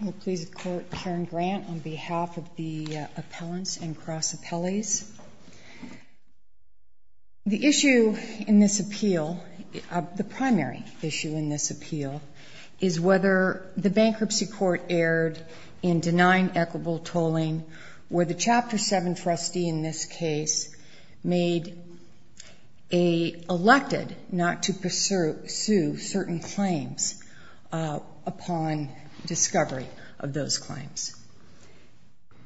I will please quote Karen Grant on behalf of the appellants and cross-appellees. The issue in this appeal, the primary issue in this appeal, is whether the bankruptcy court erred in denying equitable tolling where the Chapter 7 trustee in this case made a, elected not to pursue certain claims upon discovery of those claims.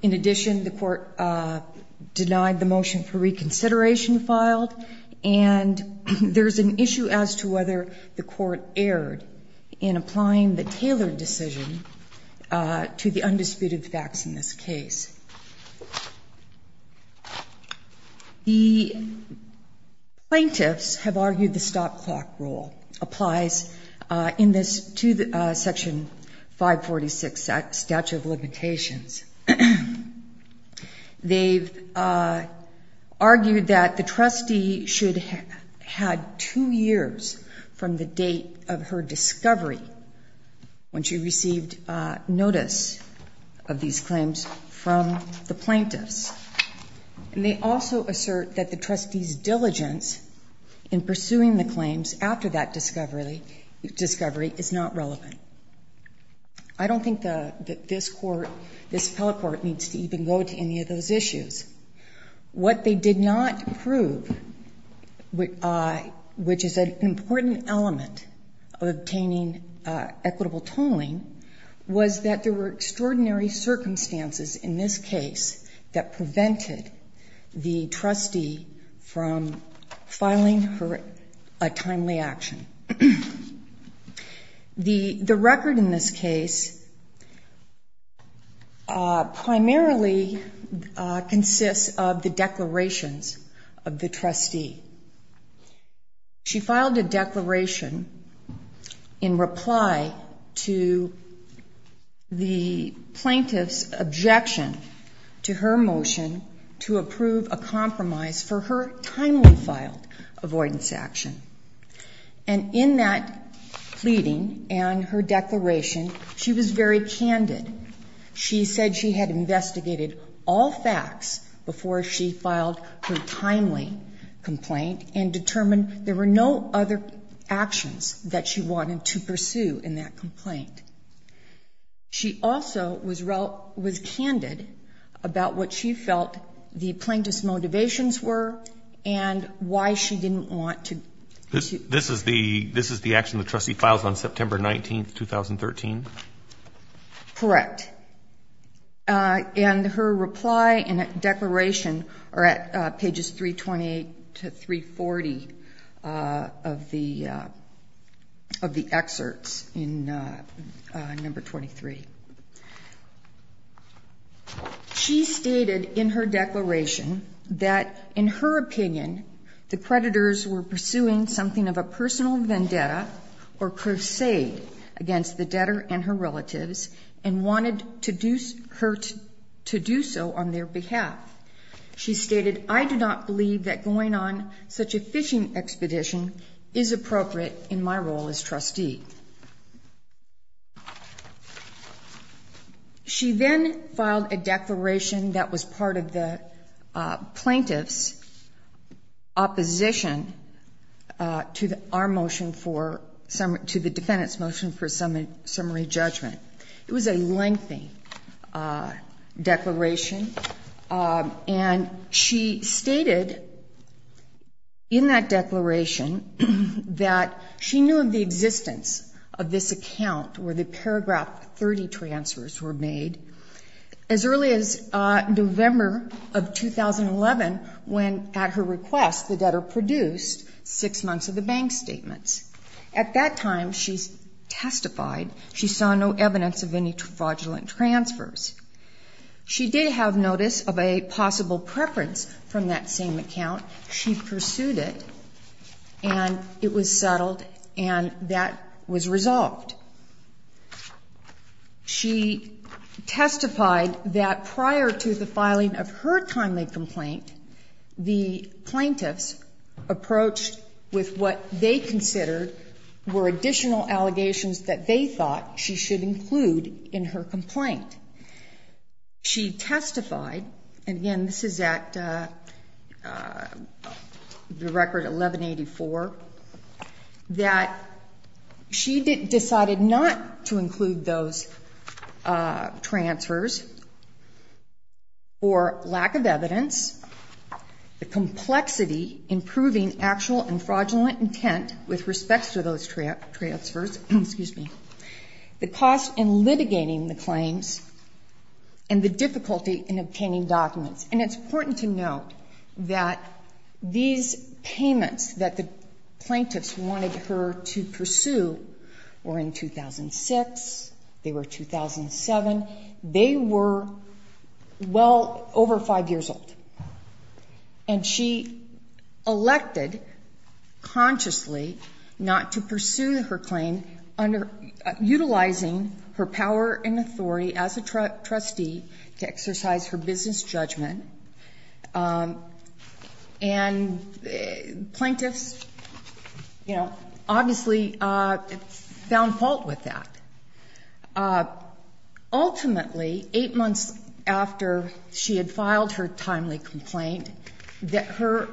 In addition, the court denied the motion for reconsideration filed and there's an issue as to whether the court erred in applying the tailored decision to the undisputed facts in this case. The plaintiffs have argued the stop clock rule applies in this, to Section 546, Statute of Limitations. They've argued that the trustee should have had two years from the date of her discovery when she received notice of these claims from the plaintiffs. And they also assert that the trustee's diligence in pursuing the claims after that discovery is not relevant. I don't think that this court, this appellate court, needs to even go to any of those issues. What they did not prove, which is an important element of obtaining equitable tolling, was that there were extraordinary circumstances in this case that prevented the trustee from filing a timely action. The record in this case primarily consists of the declarations of the trustee. She filed a declaration in reply to the plaintiff's objection to her motion to approve a compromise for her timely filed avoidance action. And in that pleading and her declaration, she was very candid. She said she had investigated all facts before she filed her timely complaint and determined there were no other actions that she wanted to pursue in that complaint. She also was candid about what she felt the plaintiff's motivations were and why she didn't want to pursue. This is the action the trustee files on September 19, 2013? Correct. And her reply and declaration are at pages 328 to 340 of the excerpts in number 23. She stated in her declaration that, in her opinion, the predators were pursuing something of a personal vendetta or crusade against the debtor and her relatives and wanted her to do so on their behalf. She stated, I do not believe that going on such a fishing expedition is appropriate in my role as trustee. She then filed a declaration that was part of the plaintiff's opposition to the defendant's motion for summary judgment. It was a lengthy declaration. And she stated in that declaration that she knew of the existence of this account where the paragraph 30 transfers were made. As early as November of 2011, when at her request, the debtor produced six months of the bank statements. At that time, she testified she saw no evidence of any fraudulent transfers. She did have notice of a possible preference from that same account. She pursued it, and it was settled, and that was resolved. She testified that prior to the filing of her timely complaint, the plaintiffs approached with what they considered were additional allegations that they thought she should include in her complaint. She testified, and again, this is at the record 1184, that she decided not to include those transfers for lack of evidence, the complexity in proving actual and fraudulent intent with respect to those transfers, the cost in litigating the claims, and the difficulty in obtaining documents. And it's important to note that these payments that the plaintiffs wanted her to pursue were in 2006, they were 2007, they were well over five years old. And she elected consciously not to pursue her claim, utilizing her power and authority as a trustee to exercise her business judgment. And plaintiffs, you know, obviously found fault with that. Ultimately, eight months after she had filed her timely complaint, her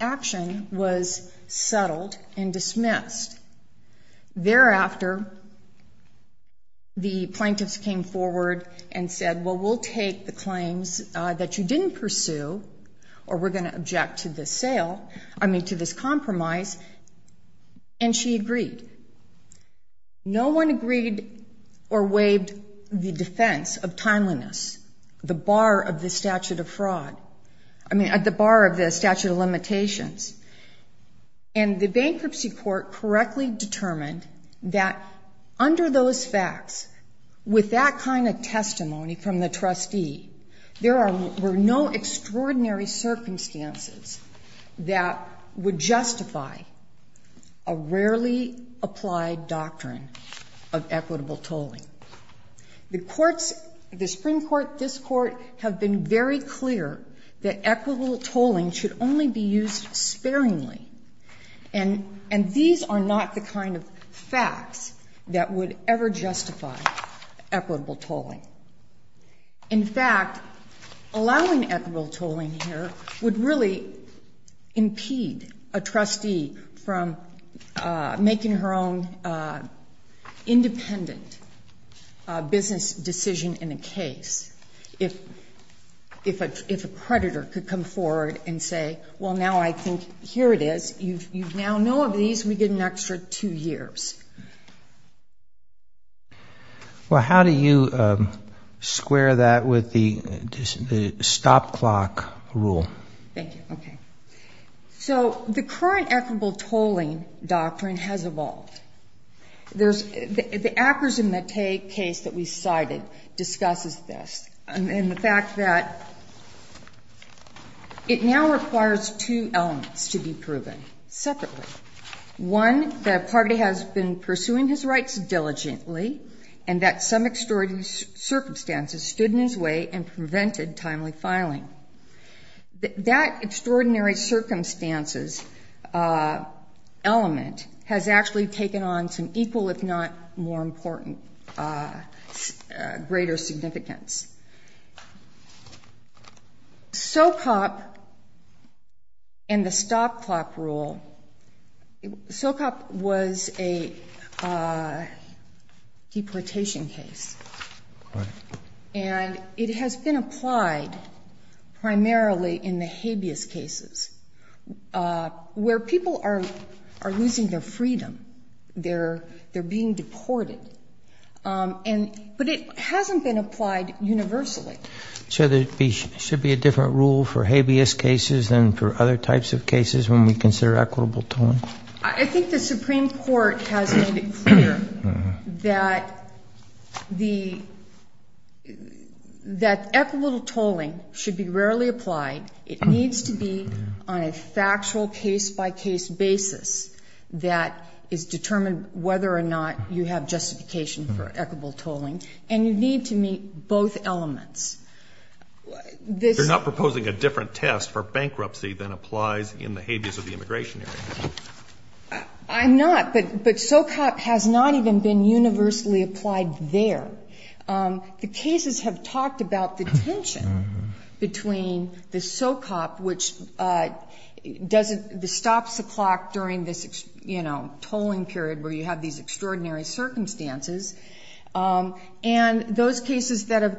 action was settled and dismissed. Thereafter, the plaintiffs came forward and said, well, we'll take the claims that you didn't pursue, or we're going to object to this sale, I mean to this compromise, and she agreed. No one agreed or waived the defense of timeliness, the bar of the statute of fraud, I mean the bar of the statute of limitations. And the bankruptcy court correctly determined that under those facts, with that kind of testimony from the trustee, there were no extraordinary circumstances that would justify a rarely applied doctrine of equitable tolling. The courts, the Supreme Court, this Court, have been very clear that equitable tolling should only be used sparingly. And these are not the kind of facts that would ever justify equitable tolling. In fact, allowing equitable tolling here would really impede a trustee from making her own independent business decision in a case. If a predator could come forward and say, well, now I think here it is, you now know of these, we get an extra two years. Well, how do you square that with the stop clock rule? Thank you. Okay. So the current equitable tolling doctrine has evolved. The Akers and Mattei case that we cited discusses this, and the fact that it now requires two elements to be proven separately. One, the party has been pursuing his rights diligently and that some extraordinary circumstances stood in his way and prevented timely filing. That extraordinary circumstances element has actually taken on some equal, if not more important, greater significance. SOCOP and the stop clock rule, SOCOP was a deportation case, and it has been applied primarily in the habeas cases where people are losing their freedom. They're being deported. But it hasn't been applied universally. So there should be a different rule for habeas cases than for other types of cases when we consider equitable tolling? I think the Supreme Court has made it clear that equitable tolling should be rarely applied. It needs to be on a factual case-by-case basis that is determined whether or not you have justification for equitable tolling. And you need to meet both elements. You're not proposing a different test for bankruptcy than applies in the habeas of the immigration area. I'm not, but SOCOP has not even been universally applied there. The cases have talked about the tension between the SOCOP, which stops the clock during this tolling period where you have these extraordinary circumstances, and those cases that have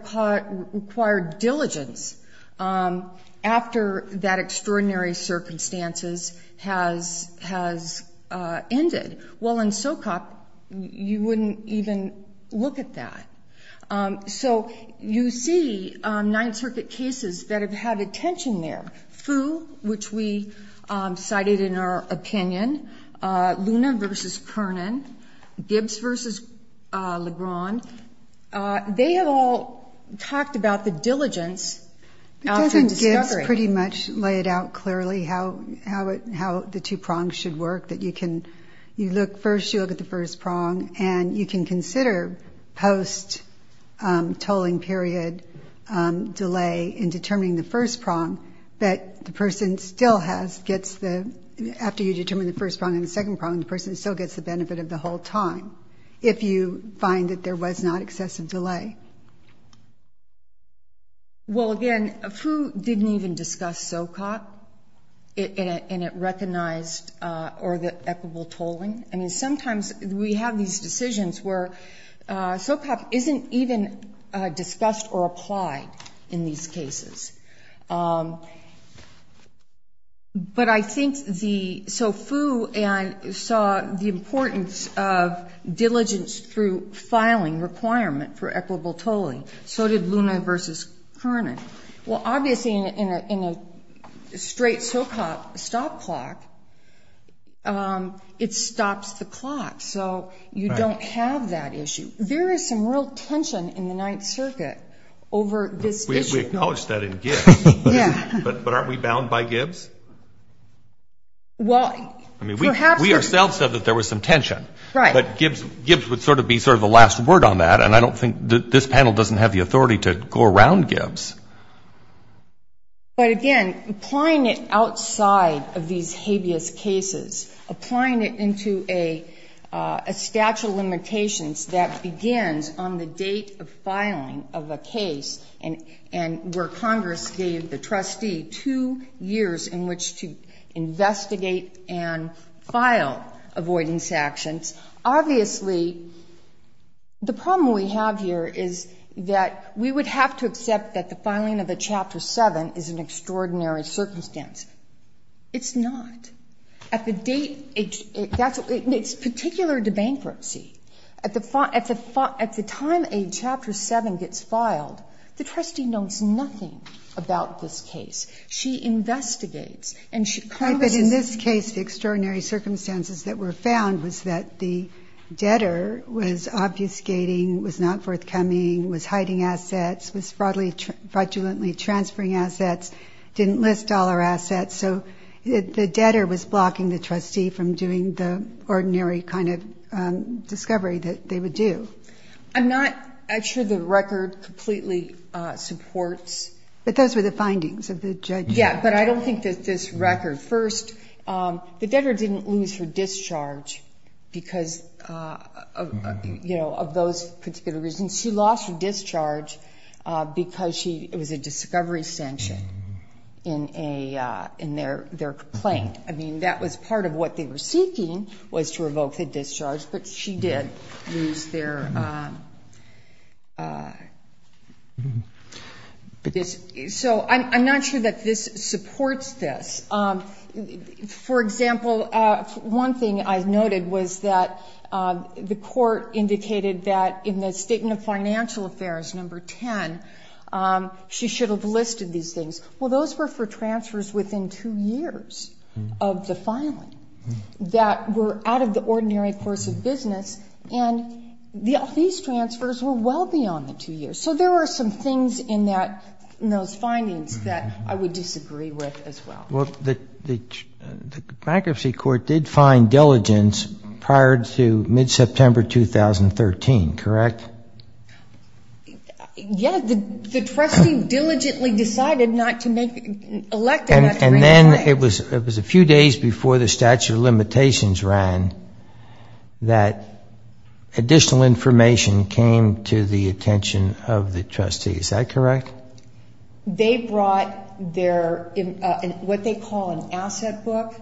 required diligence after that extraordinary circumstances has ended. Well, in SOCOP, you wouldn't even look at that. So you see Ninth Circuit cases that have had a tension there. Foo, which we cited in our opinion, Luna v. Kernan, Gibbs v. Legrand, they have all talked about the diligence after discovery. Doesn't Gibbs pretty much lay it out clearly how the two prongs should work, that you look first, you look at the first prong, and you can consider post-tolling period delay in determining the first prong, but the person still has, gets the, after you determine the first prong and the second prong, the person still gets the benefit of the whole time if you find that there was not excessive delay. Well, again, Foo didn't even discuss SOCOP in a recognized or the equitable tolling. I mean, sometimes we have these decisions where SOCOP isn't even discussed or applied in these cases. But I think the, so Foo saw the importance of diligence through filing requirement for equitable tolling. So did Luna v. Kernan. Well, obviously in a straight SOCOP stop clock, it stops the clock. So you don't have that issue. There is some real tension in the Ninth Circuit over this issue. We acknowledge that in Gibbs. Yeah. But aren't we bound by Gibbs? Well, perhaps. I mean, we ourselves said that there was some tension. Right. But Gibbs would sort of be sort of the last word on that, and I don't think this panel doesn't have the authority to go around Gibbs. But, again, applying it outside of these habeas cases, applying it into a statute of limitations that begins on the date of filing of a case and where Congress gave the trustee two years in which to investigate and file avoidance actions, obviously the problem we have here is that we would have to accept that the filing of the Chapter 7 is an extraordinary circumstance. It's not. At the date, it's particular to bankruptcy. At the time a Chapter 7 gets filed, the trustee knows nothing about this case. She investigates, and Congress doesn't. Right, but in this case, the extraordinary circumstances that were found was that the debtor was obfuscating, was not forthcoming, was hiding assets, was fraudulently transferring assets, didn't list dollar assets. So the debtor was blocking the trustee from doing the ordinary kind of discovery that they would do. I'm not actually sure the record completely supports. But those were the findings of the judge. Yeah, but I don't think that this record. First, the debtor didn't lose her discharge because of those particular reasons. She lost her discharge because it was a discovery sanction in their complaint. I mean, that was part of what they were seeking was to revoke the discharge, but she did lose their. So I'm not sure that this supports this. For example, one thing I've noted was that the court indicated that in the statement of financial affairs, number 10, she should have listed these things. Well, those were for transfers within two years of the filing that were out of the ordinary course of business, and these transfers were well beyond the two years. So there were some things in those findings that I would disagree with as well. Well, the bankruptcy court did find diligence prior to mid-September 2013, correct? Yes, the trustee diligently decided not to elect her. And then it was a few days before the statute of limitations ran that additional information came to the attention of the trustee, is that correct? They brought what they call an asset book,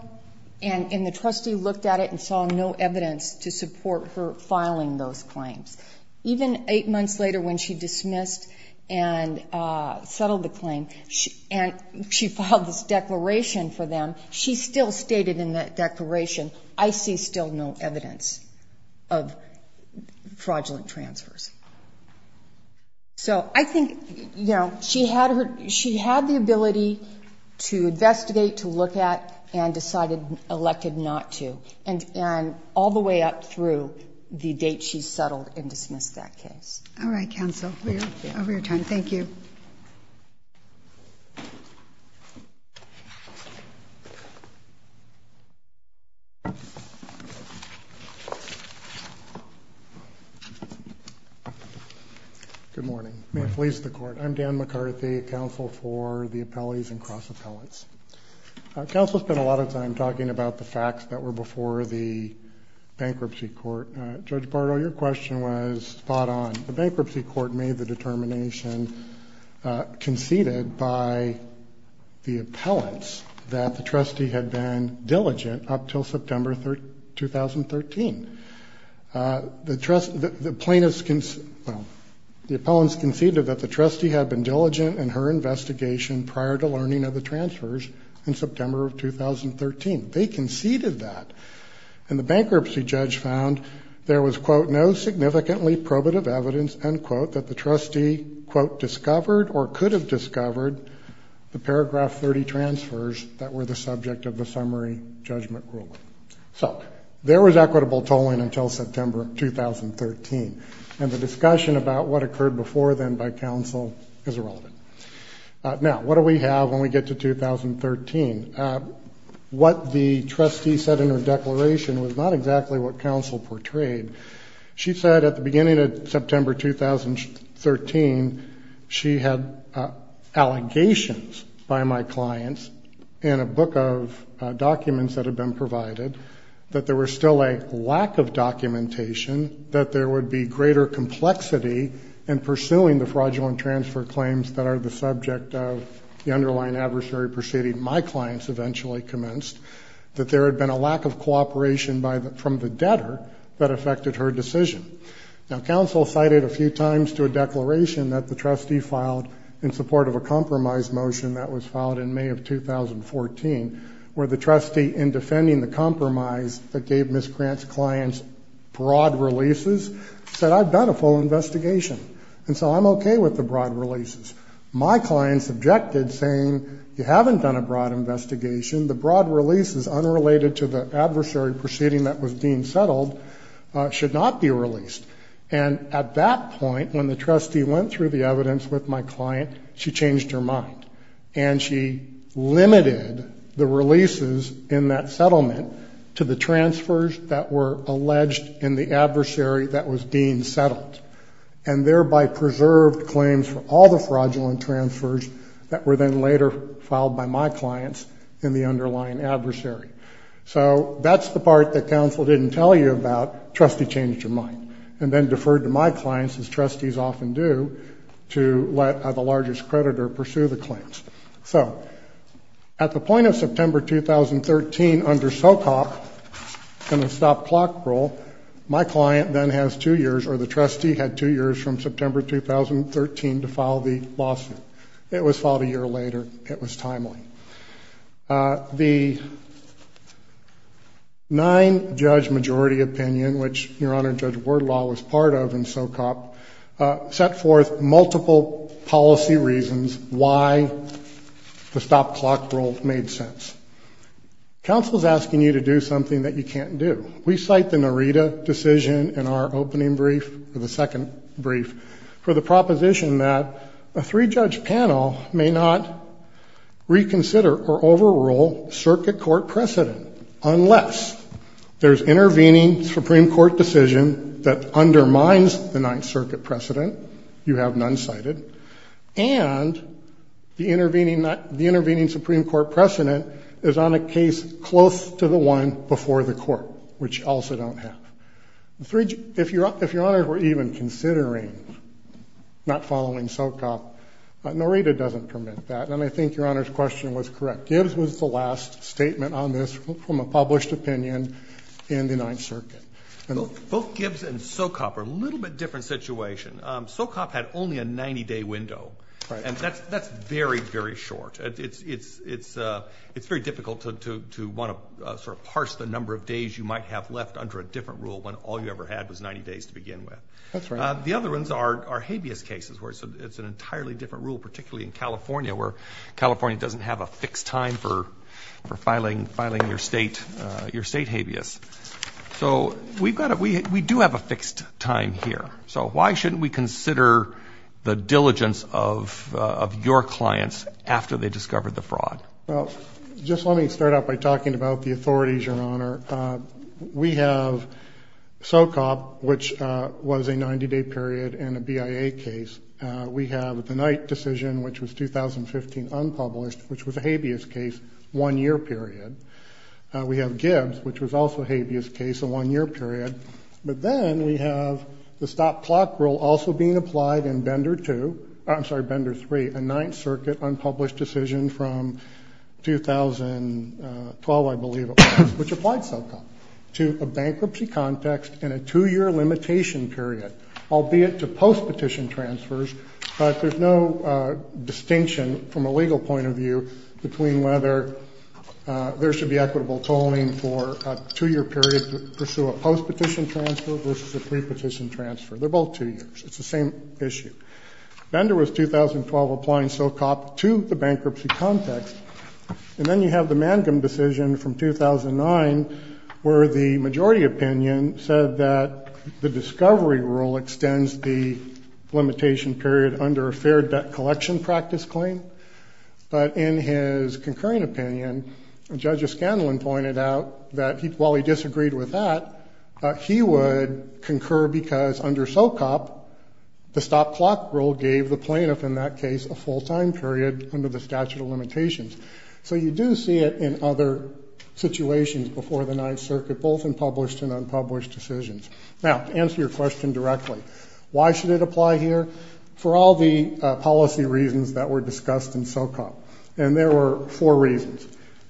and the trustee looked at it and saw no evidence to support her filing those claims. Even eight months later when she dismissed and settled the claim, and she filed this declaration for them, she still stated in that declaration, I see still no evidence of fraudulent transfers. So I think she had the ability to investigate, to look at, and decided, elected not to, and all the way up through the date she settled and dismissed that case. All right, counsel. We are over your time. Thank you. Good morning. May it please the Court. I'm Dan McCarthy, counsel for the appellees and cross-appellants. Counsel spent a lot of time talking about the facts that were before the bankruptcy court. Judge Bardo, your question was spot on. The bankruptcy court made the determination, conceded by the appellants, that the trustee had been diligent up until September 2013. The plaintiffs, well, the appellants conceded that the trustee had been diligent in her investigation prior to learning of the transfers in September of 2013. They conceded that. And the bankruptcy judge found there was, quote, no significantly probative evidence, end quote, that the trustee, quote, discovered or could have discovered the paragraph 30 transfers that were the subject of the summary judgment ruling. So there was equitable tolling until September 2013. And the discussion about what occurred before then by counsel is irrelevant. Now, what do we have when we get to 2013? What the trustee said in her declaration was not exactly what counsel portrayed. She said at the beginning of September 2013, she had allegations by my clients in a book of documents that had been provided that there was still a lack of documentation, that there would be greater complexity in pursuing the fraudulent transfer claims that are the subject of the underlying adversary proceeding. My clients eventually commenced that there had been a lack of cooperation from the debtor that affected her decision. Now, counsel cited a few times to a declaration that the trustee filed in support of a compromise motion that was filed in May of 2014, where the trustee in defending the compromise that gave Ms. Grant's clients broad releases said, I've done a full investigation. And so I'm okay with the broad releases. My clients objected saying you haven't done a broad investigation. The broad releases unrelated to the adversary proceeding that was deemed settled should not be released. And at that point, when the trustee went through the evidence with my client, she changed her mind and she limited the releases in that settlement to the transfers that were alleged in the adversary that was deemed settled and thereby preserved claims for all the fraudulent transfers that were then later filed by my clients in the underlying adversary. So that's the part that counsel didn't tell you about. Trustee changed her mind and then deferred to my clients as trustees often do to let the largest creditor pursue the claims. So at the point of September, 2013, under SOCOP and the stop clock rule, my client then has two years or the trustee had two years from September, 2013 to file the lawsuit. It was filed a year later. It was timely. The nine judge majority opinion, which your Honor, Judge Wardlaw was part of in SOCOP, set forth multiple policy reasons why the stop clock rule made sense. Counsel is asking you to do something that you can't do. We cite the Narita decision in our opening brief for the second brief for the court to consider or overrule circuit court precedent unless there's intervening Supreme Court decision that undermines the ninth circuit precedent. You have none cited and the intervening, not the intervening Supreme Court precedent is on a case close to the one before the court, which also don't have the three. If you're up, if you're on it, we're even considering not following SOCOP. Narita doesn't permit that. And I think your Honor's question was correct. Gibbs was the last statement on this from a published opinion in the ninth circuit. Both Gibbs and SOCOP are a little bit different situation. SOCOP had only a 90 day window and that's, that's very, very short. It's, it's, it's it's very difficult to, to, to want to sort of parse the number of days you might have left under a different rule when all you ever had was 90 days to begin with. That's right. The other ones are, are habeas cases where it's, it's an entirely different rule, particularly in California, where California doesn't have a fixed time for, for filing, filing your state, your state habeas. So we've got, we, we do have a fixed time here. So why shouldn't we consider the diligence of, of your clients after they discovered the fraud? Well, just let me start out by talking about the authorities, Your Honor. We have SOCOP, which was a 90 day period and a BIA case. We have the Knight decision, which was 2015 unpublished, which was a habeas case one year period. We have Gibbs, which was also a habeas case a one year period, but then we have the stop clock rule also being applied in Bender two, I'm sorry, Bender three, a ninth circuit unpublished decision from 2012, I believe, which applied SOCOP to a bankruptcy context and a two year limitation period, albeit to post petition transfers. But there's no distinction from a legal point of view between whether there should be equitable tolling for a two year period to pursue a post petition transfer versus a pre petition transfer. They're both two years. It's the same issue. Bender was 2012 applying SOCOP to the bankruptcy context. And then you have the Mangum decision from 2009 where the majority opinion said that the discovery rule extends the limitation period under a fair debt collection practice claim. But in his concurring opinion, Judge O'Scanlan pointed out that he, while he disagreed with that, he would concur because under SOCOP, the stop clock rule gave the plaintiff in that case, a full time period under the statute of limitations. So you do see it in other situations before the ninth circuit, both in published and unpublished decisions. Now, to answer your question directly, why should it apply here for all the policy reasons that were discussed in SOCOP? And there were four reasons.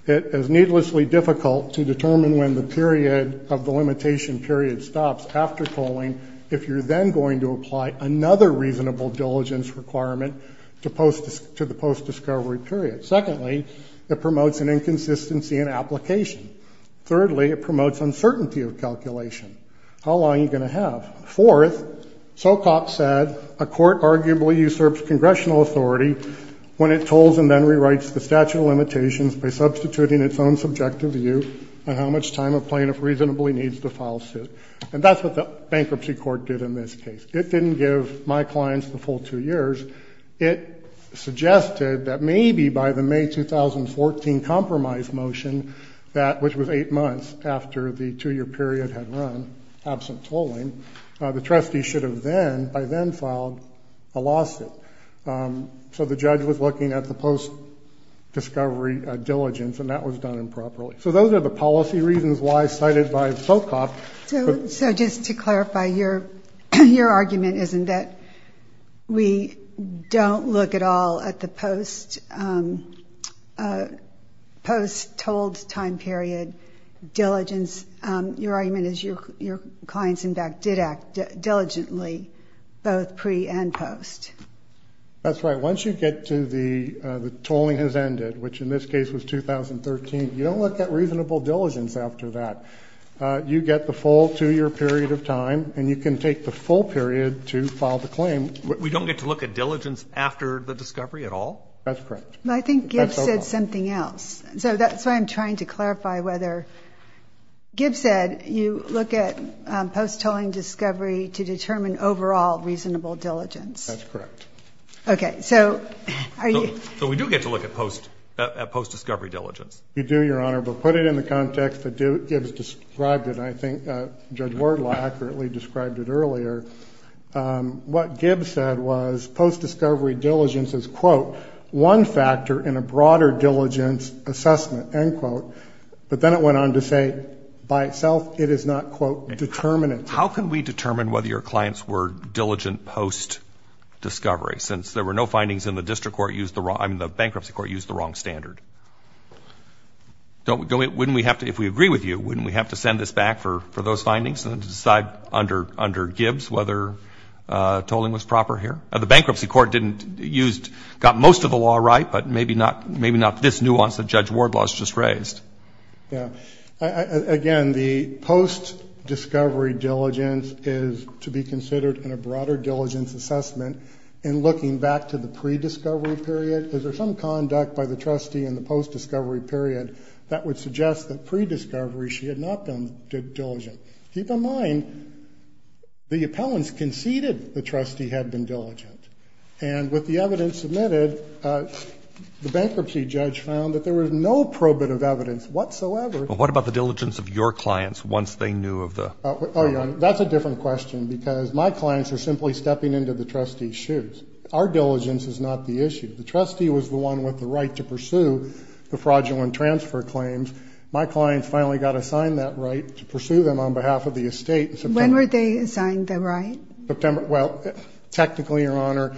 It is needlessly difficult to determine when the period of the limitation period stops after tolling. If you're then going to apply another reasonable diligence requirement to post to the post discovery period. Secondly, it promotes an inconsistency in application. Thirdly, it promotes uncertainty of calculation. How long are you going to have? Fourth, SOCOP said a court arguably usurps congressional authority when it tolls and then rewrites the statute of limitations by substituting its own subjective view on how much time a plaintiff reasonably needs to file suit. And that's what the bankruptcy court did in this case. It didn't give my clients the full two years. It suggested that maybe by the may 2014 compromise motion, that which was eight months after the two year period had run absent tolling the trustee should have then by then filed a lawsuit. So the judge was looking at the post discovery diligence and that was done improperly. So those are the policy reasons why cited by SOCOP. So just to clarify your, your argument isn't that we don't look at all at the post post tolled time period diligence. Your argument is your, your clients in fact did act diligently both pre and post. That's right. Once you get to the tolling has ended, which in this case was 2013, you don't look at reasonable diligence after that. You get the full two year period of time and you can take the full period to file the claim. We don't get to look at diligence after the discovery at all. That's correct. I think it said something else. So that's why I'm trying to clarify whether Gibbs said you look at post tolling discovery to determine overall reasonable diligence. That's correct. Okay. So are you, so we do get to look at post post discovery diligence. You do your honor, but put it in the context that Gibbs described it. And I think Judge Ward accurately described it earlier. What Gibbs said was post discovery diligence is quote, one factor in a broader diligence assessment, end quote, but then it went on to say by itself, it is not quote determinant. How can we determine whether your clients were diligent post discovery? Since there were no findings in the district court used the wrong, I mean, the bankruptcy court used the wrong standard. Don't go in. Wouldn't we have to, if we agree with you, wouldn't we have to send this back for those findings and decide under, under Gibbs, whether tolling was proper here or the bankruptcy court didn't used, got most of the law, right. But maybe not, maybe not this nuance that Judge Ward was just raised. Yeah. Again, the post discovery diligence is to be considered in a broader diligence assessment. And looking back to the pre discovery period, is there some conduct by the trustee in the post discovery period that would suggest that pre discovery, she had not been diligent. Keep in mind the appellants conceded the trustee had been diligent. And with the evidence submitted, the bankruptcy judge found that there was no probate of evidence whatsoever. What about the diligence of your clients? Once they knew of the, Oh, that's a different question because my clients are simply stepping into the trustee's shoes. Our diligence is not the issue. The trustee was the one with the right to pursue the fraudulent transfer claims. My clients finally got assigned that right to pursue them on behalf of the estate. So when were they assigned the right September? Well, technically your honor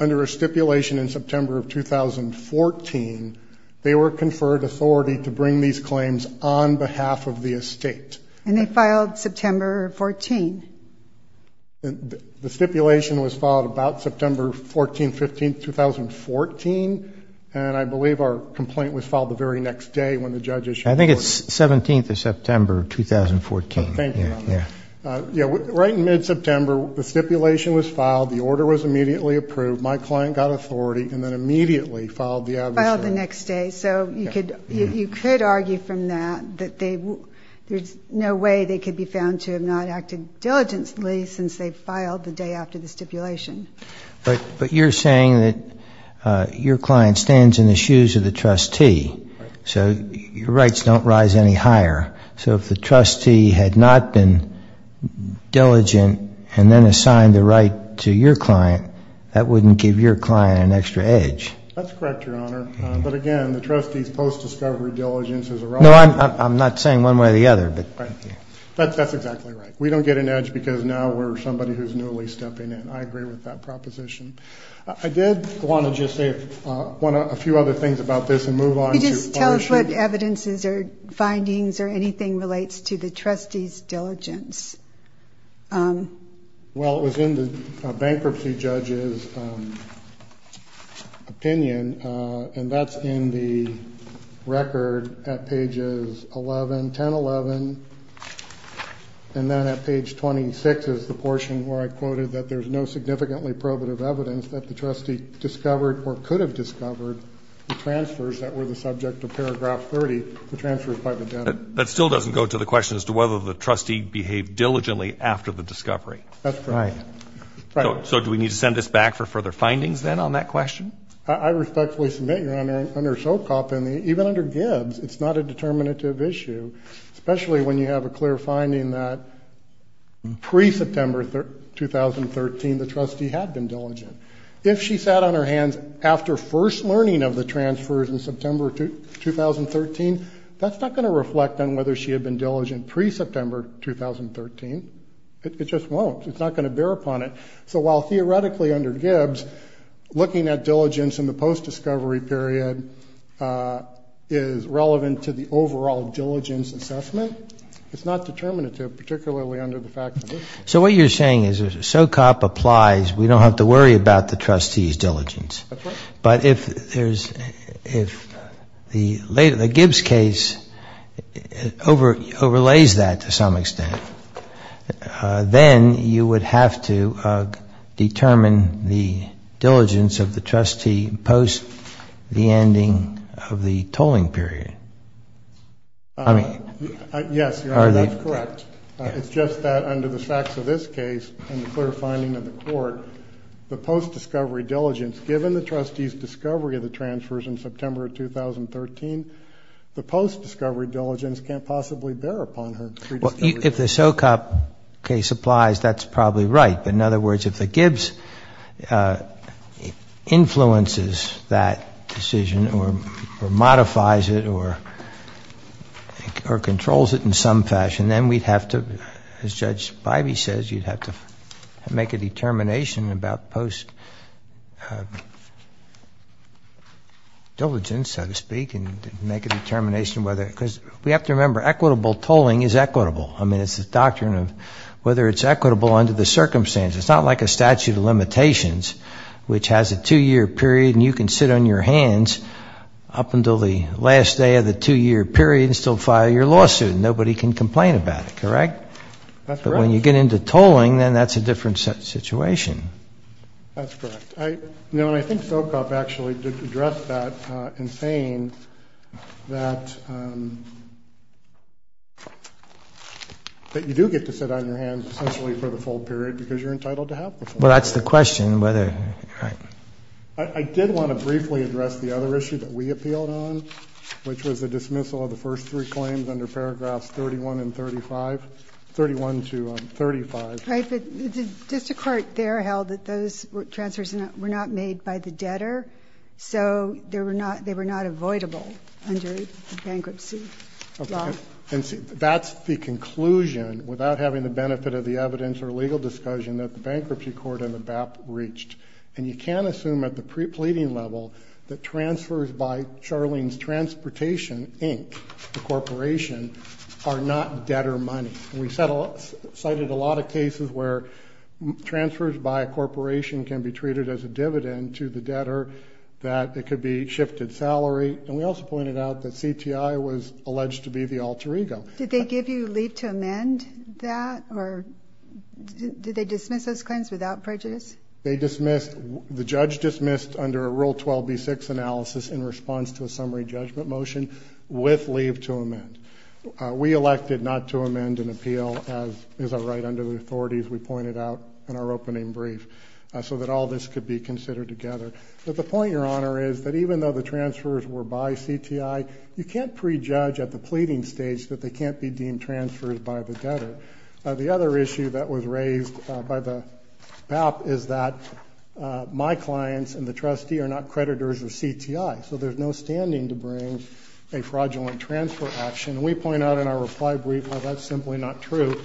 under a stipulation in September of 2014, they were conferred authority to bring these claims on behalf of the estate. And they filed September 14. The stipulation was filed about September 14, 15, 2014. And I believe our complaint was filed the very next day when the judges. I think it's 17th of September, 2014. Yeah. Yeah. Right. In mid September, the stipulation was filed. The order was immediately approved. My client got authority and then immediately filed the next day. So you could, you could argue from that, that they there's no way they could be found to have not acted diligently since they filed the day after the stipulation. But, but you're saying that your client stands in the shoes of the trustee. So your rights don't rise any higher. So if the trustee had not been diligent and then assigned the right to your client, that wouldn't give your client an extra edge. That's correct. Your honor. But again, the trustees post discovery diligence is a wrong. I'm not saying one way or the other, but that's exactly right. We don't get an edge because now we're somebody who's newly stepping in. I agree with that proposition. I did want to just say one, a few other things about this and move on. Just tell us what evidences or findings or anything relates to the trustees diligence. Well, it was in the bankruptcy judges opinion. And that's in the record at pages 11, 10, 11. And then at page 26 is the portion where I quoted that there's no significantly probative evidence that the trustee discovered or could have discovered the transfers that were the subject of paragraph 30, the transfers by the debt. That still doesn't go to the question as to whether the trustee behaved diligently after the discovery. That's right. Right. So do we need to send this back for further findings then on that question? I respectfully submit you're under, under SOCOP and even under Gibbs, it's not a determinative issue, especially when you have a clear finding that pre-September 2013, the trustee had been diligent. If she sat on her hands after first learning of the transfers in September 2013, that's not going to reflect on whether she had been diligent pre-September 2013. It just won't. It's not going to bear upon it. So while theoretically under Gibbs, looking at diligence in the post-discovery period is relevant to the overall diligence assessment, it's not determinative, particularly under the fact that it's not. So what you're saying is if SOCOP applies, we don't have to worry about the trustee's diligence. That's right. But if there's, if the Gibbs case overlays that to some extent, then you would have to determine the diligence of the trustee post the ending of the tolling period. Yes, that's correct. It's just that under the facts of this case and the clear finding of the court, the post-discovery diligence, given the trustee's discovery of the transfers in September of 2013, the post-discovery diligence can't possibly bear upon her. If the SOCOP case applies, that's probably right. In other words, if the Gibbs influences that decision or modifies it or controls it in some fashion, then we'd have to, as Judge Bivey says, you'd have to make a determination about post-diligence, so to speak, and make a determination whether, because we have to remember, equitable tolling is equitable. I mean, it's the doctrine of whether it's equitable under the circumstances. It's not like a statute of limitations, which has a two-year period and you can sit on your hands up until the last day of the two-year period and still file your lawsuit. Nobody can complain about it, correct? That's right. But when you get into tolling, then that's a different situation. That's correct. I think SOCOP actually addressed that in saying that you do get to sit on your hands essentially for the full period because you're entitled to have the full period. Well, that's the question. I did want to briefly address the other issue that we appealed on, which was the dismissal of the first three claims under paragraphs 31 and 35. 31 to 35. Just a court there held that those transfers were not made by the debtor, so they were not avoidable under the bankruptcy law. Okay. And that's the conclusion, without having the benefit of the evidence or legal discussion, that the bankruptcy court and the BAP reached. And you can't assume at the prepleading level that transfers by Charlene's Transportation, Inc., the corporation, are not debtor money. And we cited a lot of cases where transfers by a corporation can be treated as a dividend to the debtor, that it could be shifted salary. And we also pointed out that CTI was alleged to be the alter ego. Did they give you leave to amend that, or did they dismiss those claims without prejudice? They dismissed. The judge dismissed under Rule 12b-6 analysis in response to a summary judgment motion with leave to amend. We elected not to amend an appeal as is our right under the authorities we pointed out in our opening brief, so that all this could be considered together. But the point, Your Honor, is that even though the transfers were by CTI, you can't prejudge at the pleading stage that they can't be deemed transfers by the debtor. The other issue that was raised by the BAP is that my clients and the trustee are not creditors of CTI, so there's no standing to bring a fraudulent transfer action. And we point out in our reply brief, well, that's simply not true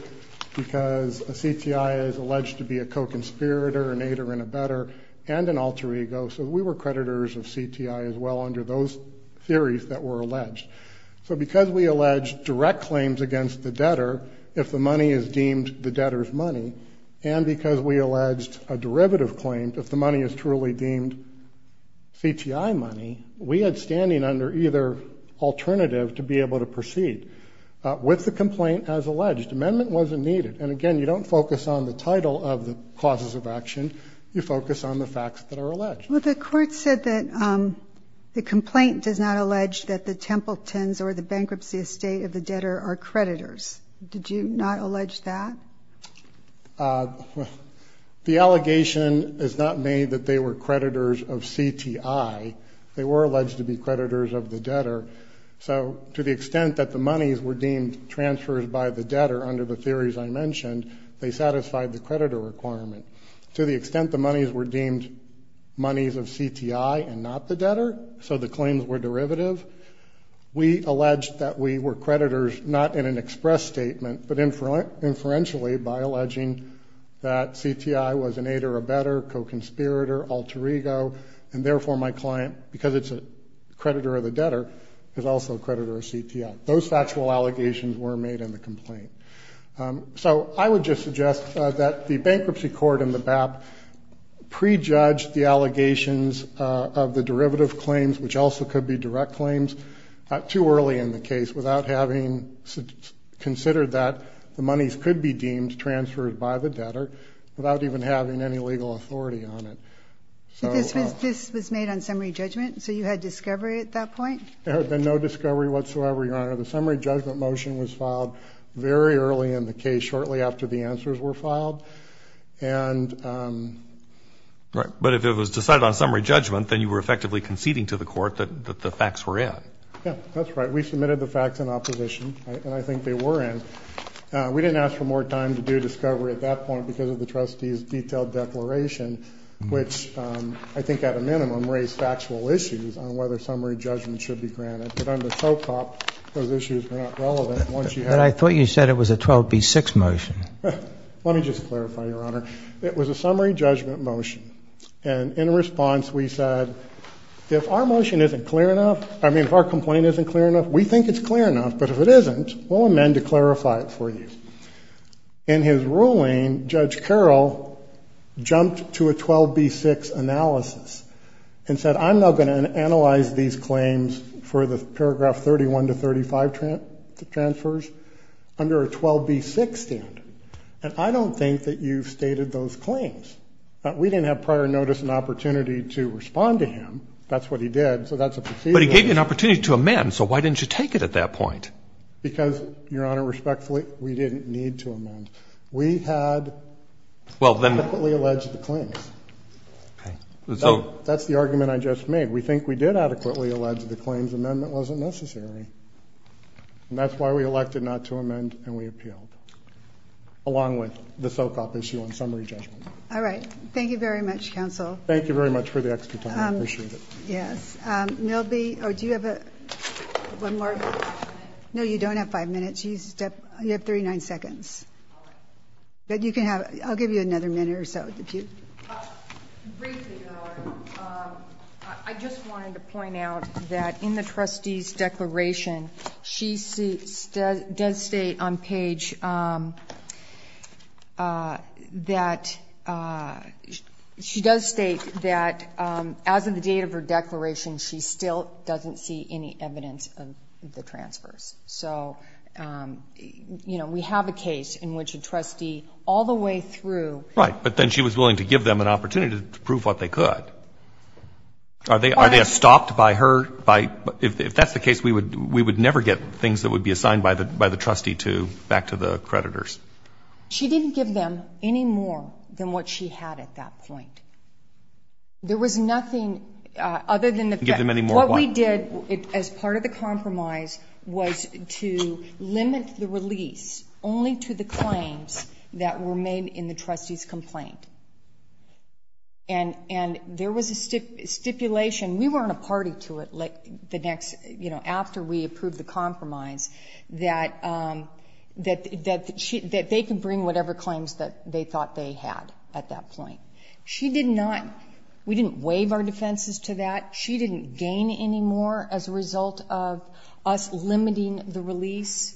because a CTI is alleged to be a co-conspirator, an aider and abetter, and an alter ego. So we were creditors of CTI as well under those theories that were alleged. So because we alleged direct claims against the debtor, if the money is deemed the debtor's money, and because we alleged a derivative claim, if the money is truly deemed CTI money, we had standing under either alternative to be able to proceed with the complaint as alleged. Amendment wasn't needed. And, again, you don't focus on the title of the causes of action. You focus on the facts that are alleged. Well, the court said that the complaint does not allege that the Templetons or the bankruptcy estate of the debtor are creditors. Did you not allege that? The allegation is not made that they were creditors of CTI. They were alleged to be creditors of the debtor. So to the extent that the monies were deemed transfers by the debtor under the theories I mentioned, they satisfied the creditor requirement. To the extent the monies were deemed monies of CTI and not the debtor, so the claims were derivative, we alleged that we were creditors not in an express statement, but inferentially by alleging that CTI was an aid or a better, co-conspirator, alter ego, and therefore my client, because it's a creditor of the debtor, is also a creditor of CTI. Those factual allegations were made in the complaint. So I would just suggest that the bankruptcy court in the BAP prejudged the allegations of the derivative claims, which also could be direct claims, too early in the case without having considered that the monies could be deemed transferred by the debtor without even having any legal authority on it. But this was made on summary judgment? So you had discovery at that point? There had been no discovery whatsoever, Your Honor. The summary judgment motion was filed very early in the case, shortly after the answers were filed. But if it was decided on summary judgment, then you were effectively conceding to the court that the facts were in. Yeah, that's right. We submitted the facts in opposition, and I think they were in. We didn't ask for more time to do discovery at that point because of the trustee's detailed declaration, which I think at a minimum raised factual issues on whether summary judgment should be granted. But under SOCOP, those issues were not relevant. But I thought you said it was a 12B6 motion. Let me just clarify, Your Honor. It was a summary judgment motion. And in response, we said, if our motion isn't clear enough, I mean if our complaint isn't clear enough, we think it's clear enough. But if it isn't, we'll amend to clarify it for you. In his ruling, Judge Carroll jumped to a 12B6 analysis and said, I'm not going to analyze these claims for the paragraph 31 to 35 transfers under a 12B6 standard. And I don't think that you've stated those claims. We didn't have prior notice and opportunity to respond to him. That's what he did. So that's a procedure. But he gave you an opportunity to amend. So why didn't you take it at that point? Because, Your Honor, respectfully, we didn't need to amend. We had adequately alleged the claims. Okay. So that's the argument I just made. We think we did adequately allege the claims. Amendment wasn't necessary. And that's why we elected not to amend and we appealed, along with the SOCOP issue on summary judgment. All right. Thank you very much, Counsel. Thank you very much for the extra time. I appreciate it. Yes. Milby, do you have one more? No, you don't have five minutes. You have 39 seconds. All right. I'll give you another minute or so. Briefly, Your Honor, I just wanted to point out that in the trustee's declaration, she does state on page that she does state that as of the date of her declaration she still doesn't see any evidence of the transfers. So, you know, we have a case in which a trustee all the way through. Right. But then she was willing to give them an opportunity to prove what they could. Are they stopped by her? If that's the case, we would never get things that would be assigned by the trustee back to the creditors. She didn't give them any more than what she had at that point. There was nothing other than the fact that what we did as part of the compromise was to limit the release only to the claims that were made in the trustee's complaint. And there was a stipulation. We were on a party to it the next, you know, after we approved the compromise, that they could bring whatever claims that they thought they had at that point. She did not. We didn't waive our defenses to that. She didn't gain any more as a result of us limiting the release.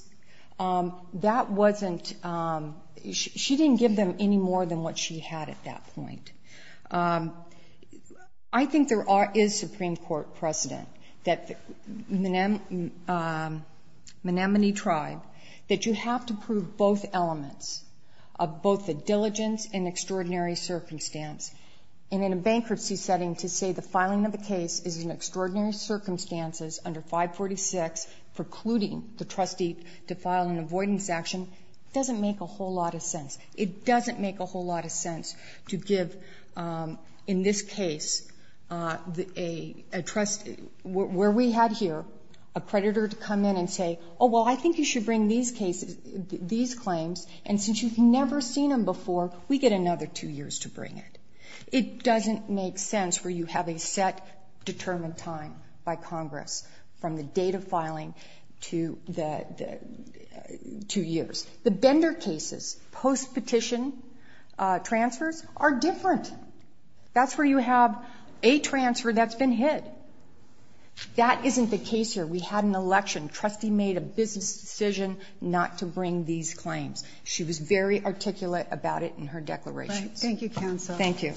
That wasn't, she didn't give them any more than what she had at that point. I think there is Supreme Court precedent that the Menominee Tribe, that you have to prove both elements of both the diligence and extraordinary circumstance. And in a bankruptcy setting, to say the filing of a case is in extraordinary circumstances under 546, precluding the trustee to file an avoidance action, doesn't make a whole lot of sense. It doesn't make a whole lot of sense to give, in this case, a trustee where we had here, a creditor to come in and say, oh, well, I think you should bring these claims, and since you've never seen them before, we get another two years to bring it. It doesn't make sense where you have a set determined time by Congress, from the date of filing to the two years. The bender cases, post-petition transfers, are different. That's where you have a transfer that's been hid. That isn't the case here. We had an election. Trustee made a business decision not to bring these claims. She was very articulate about it in her declarations. Thank you, Counsel. Thank you.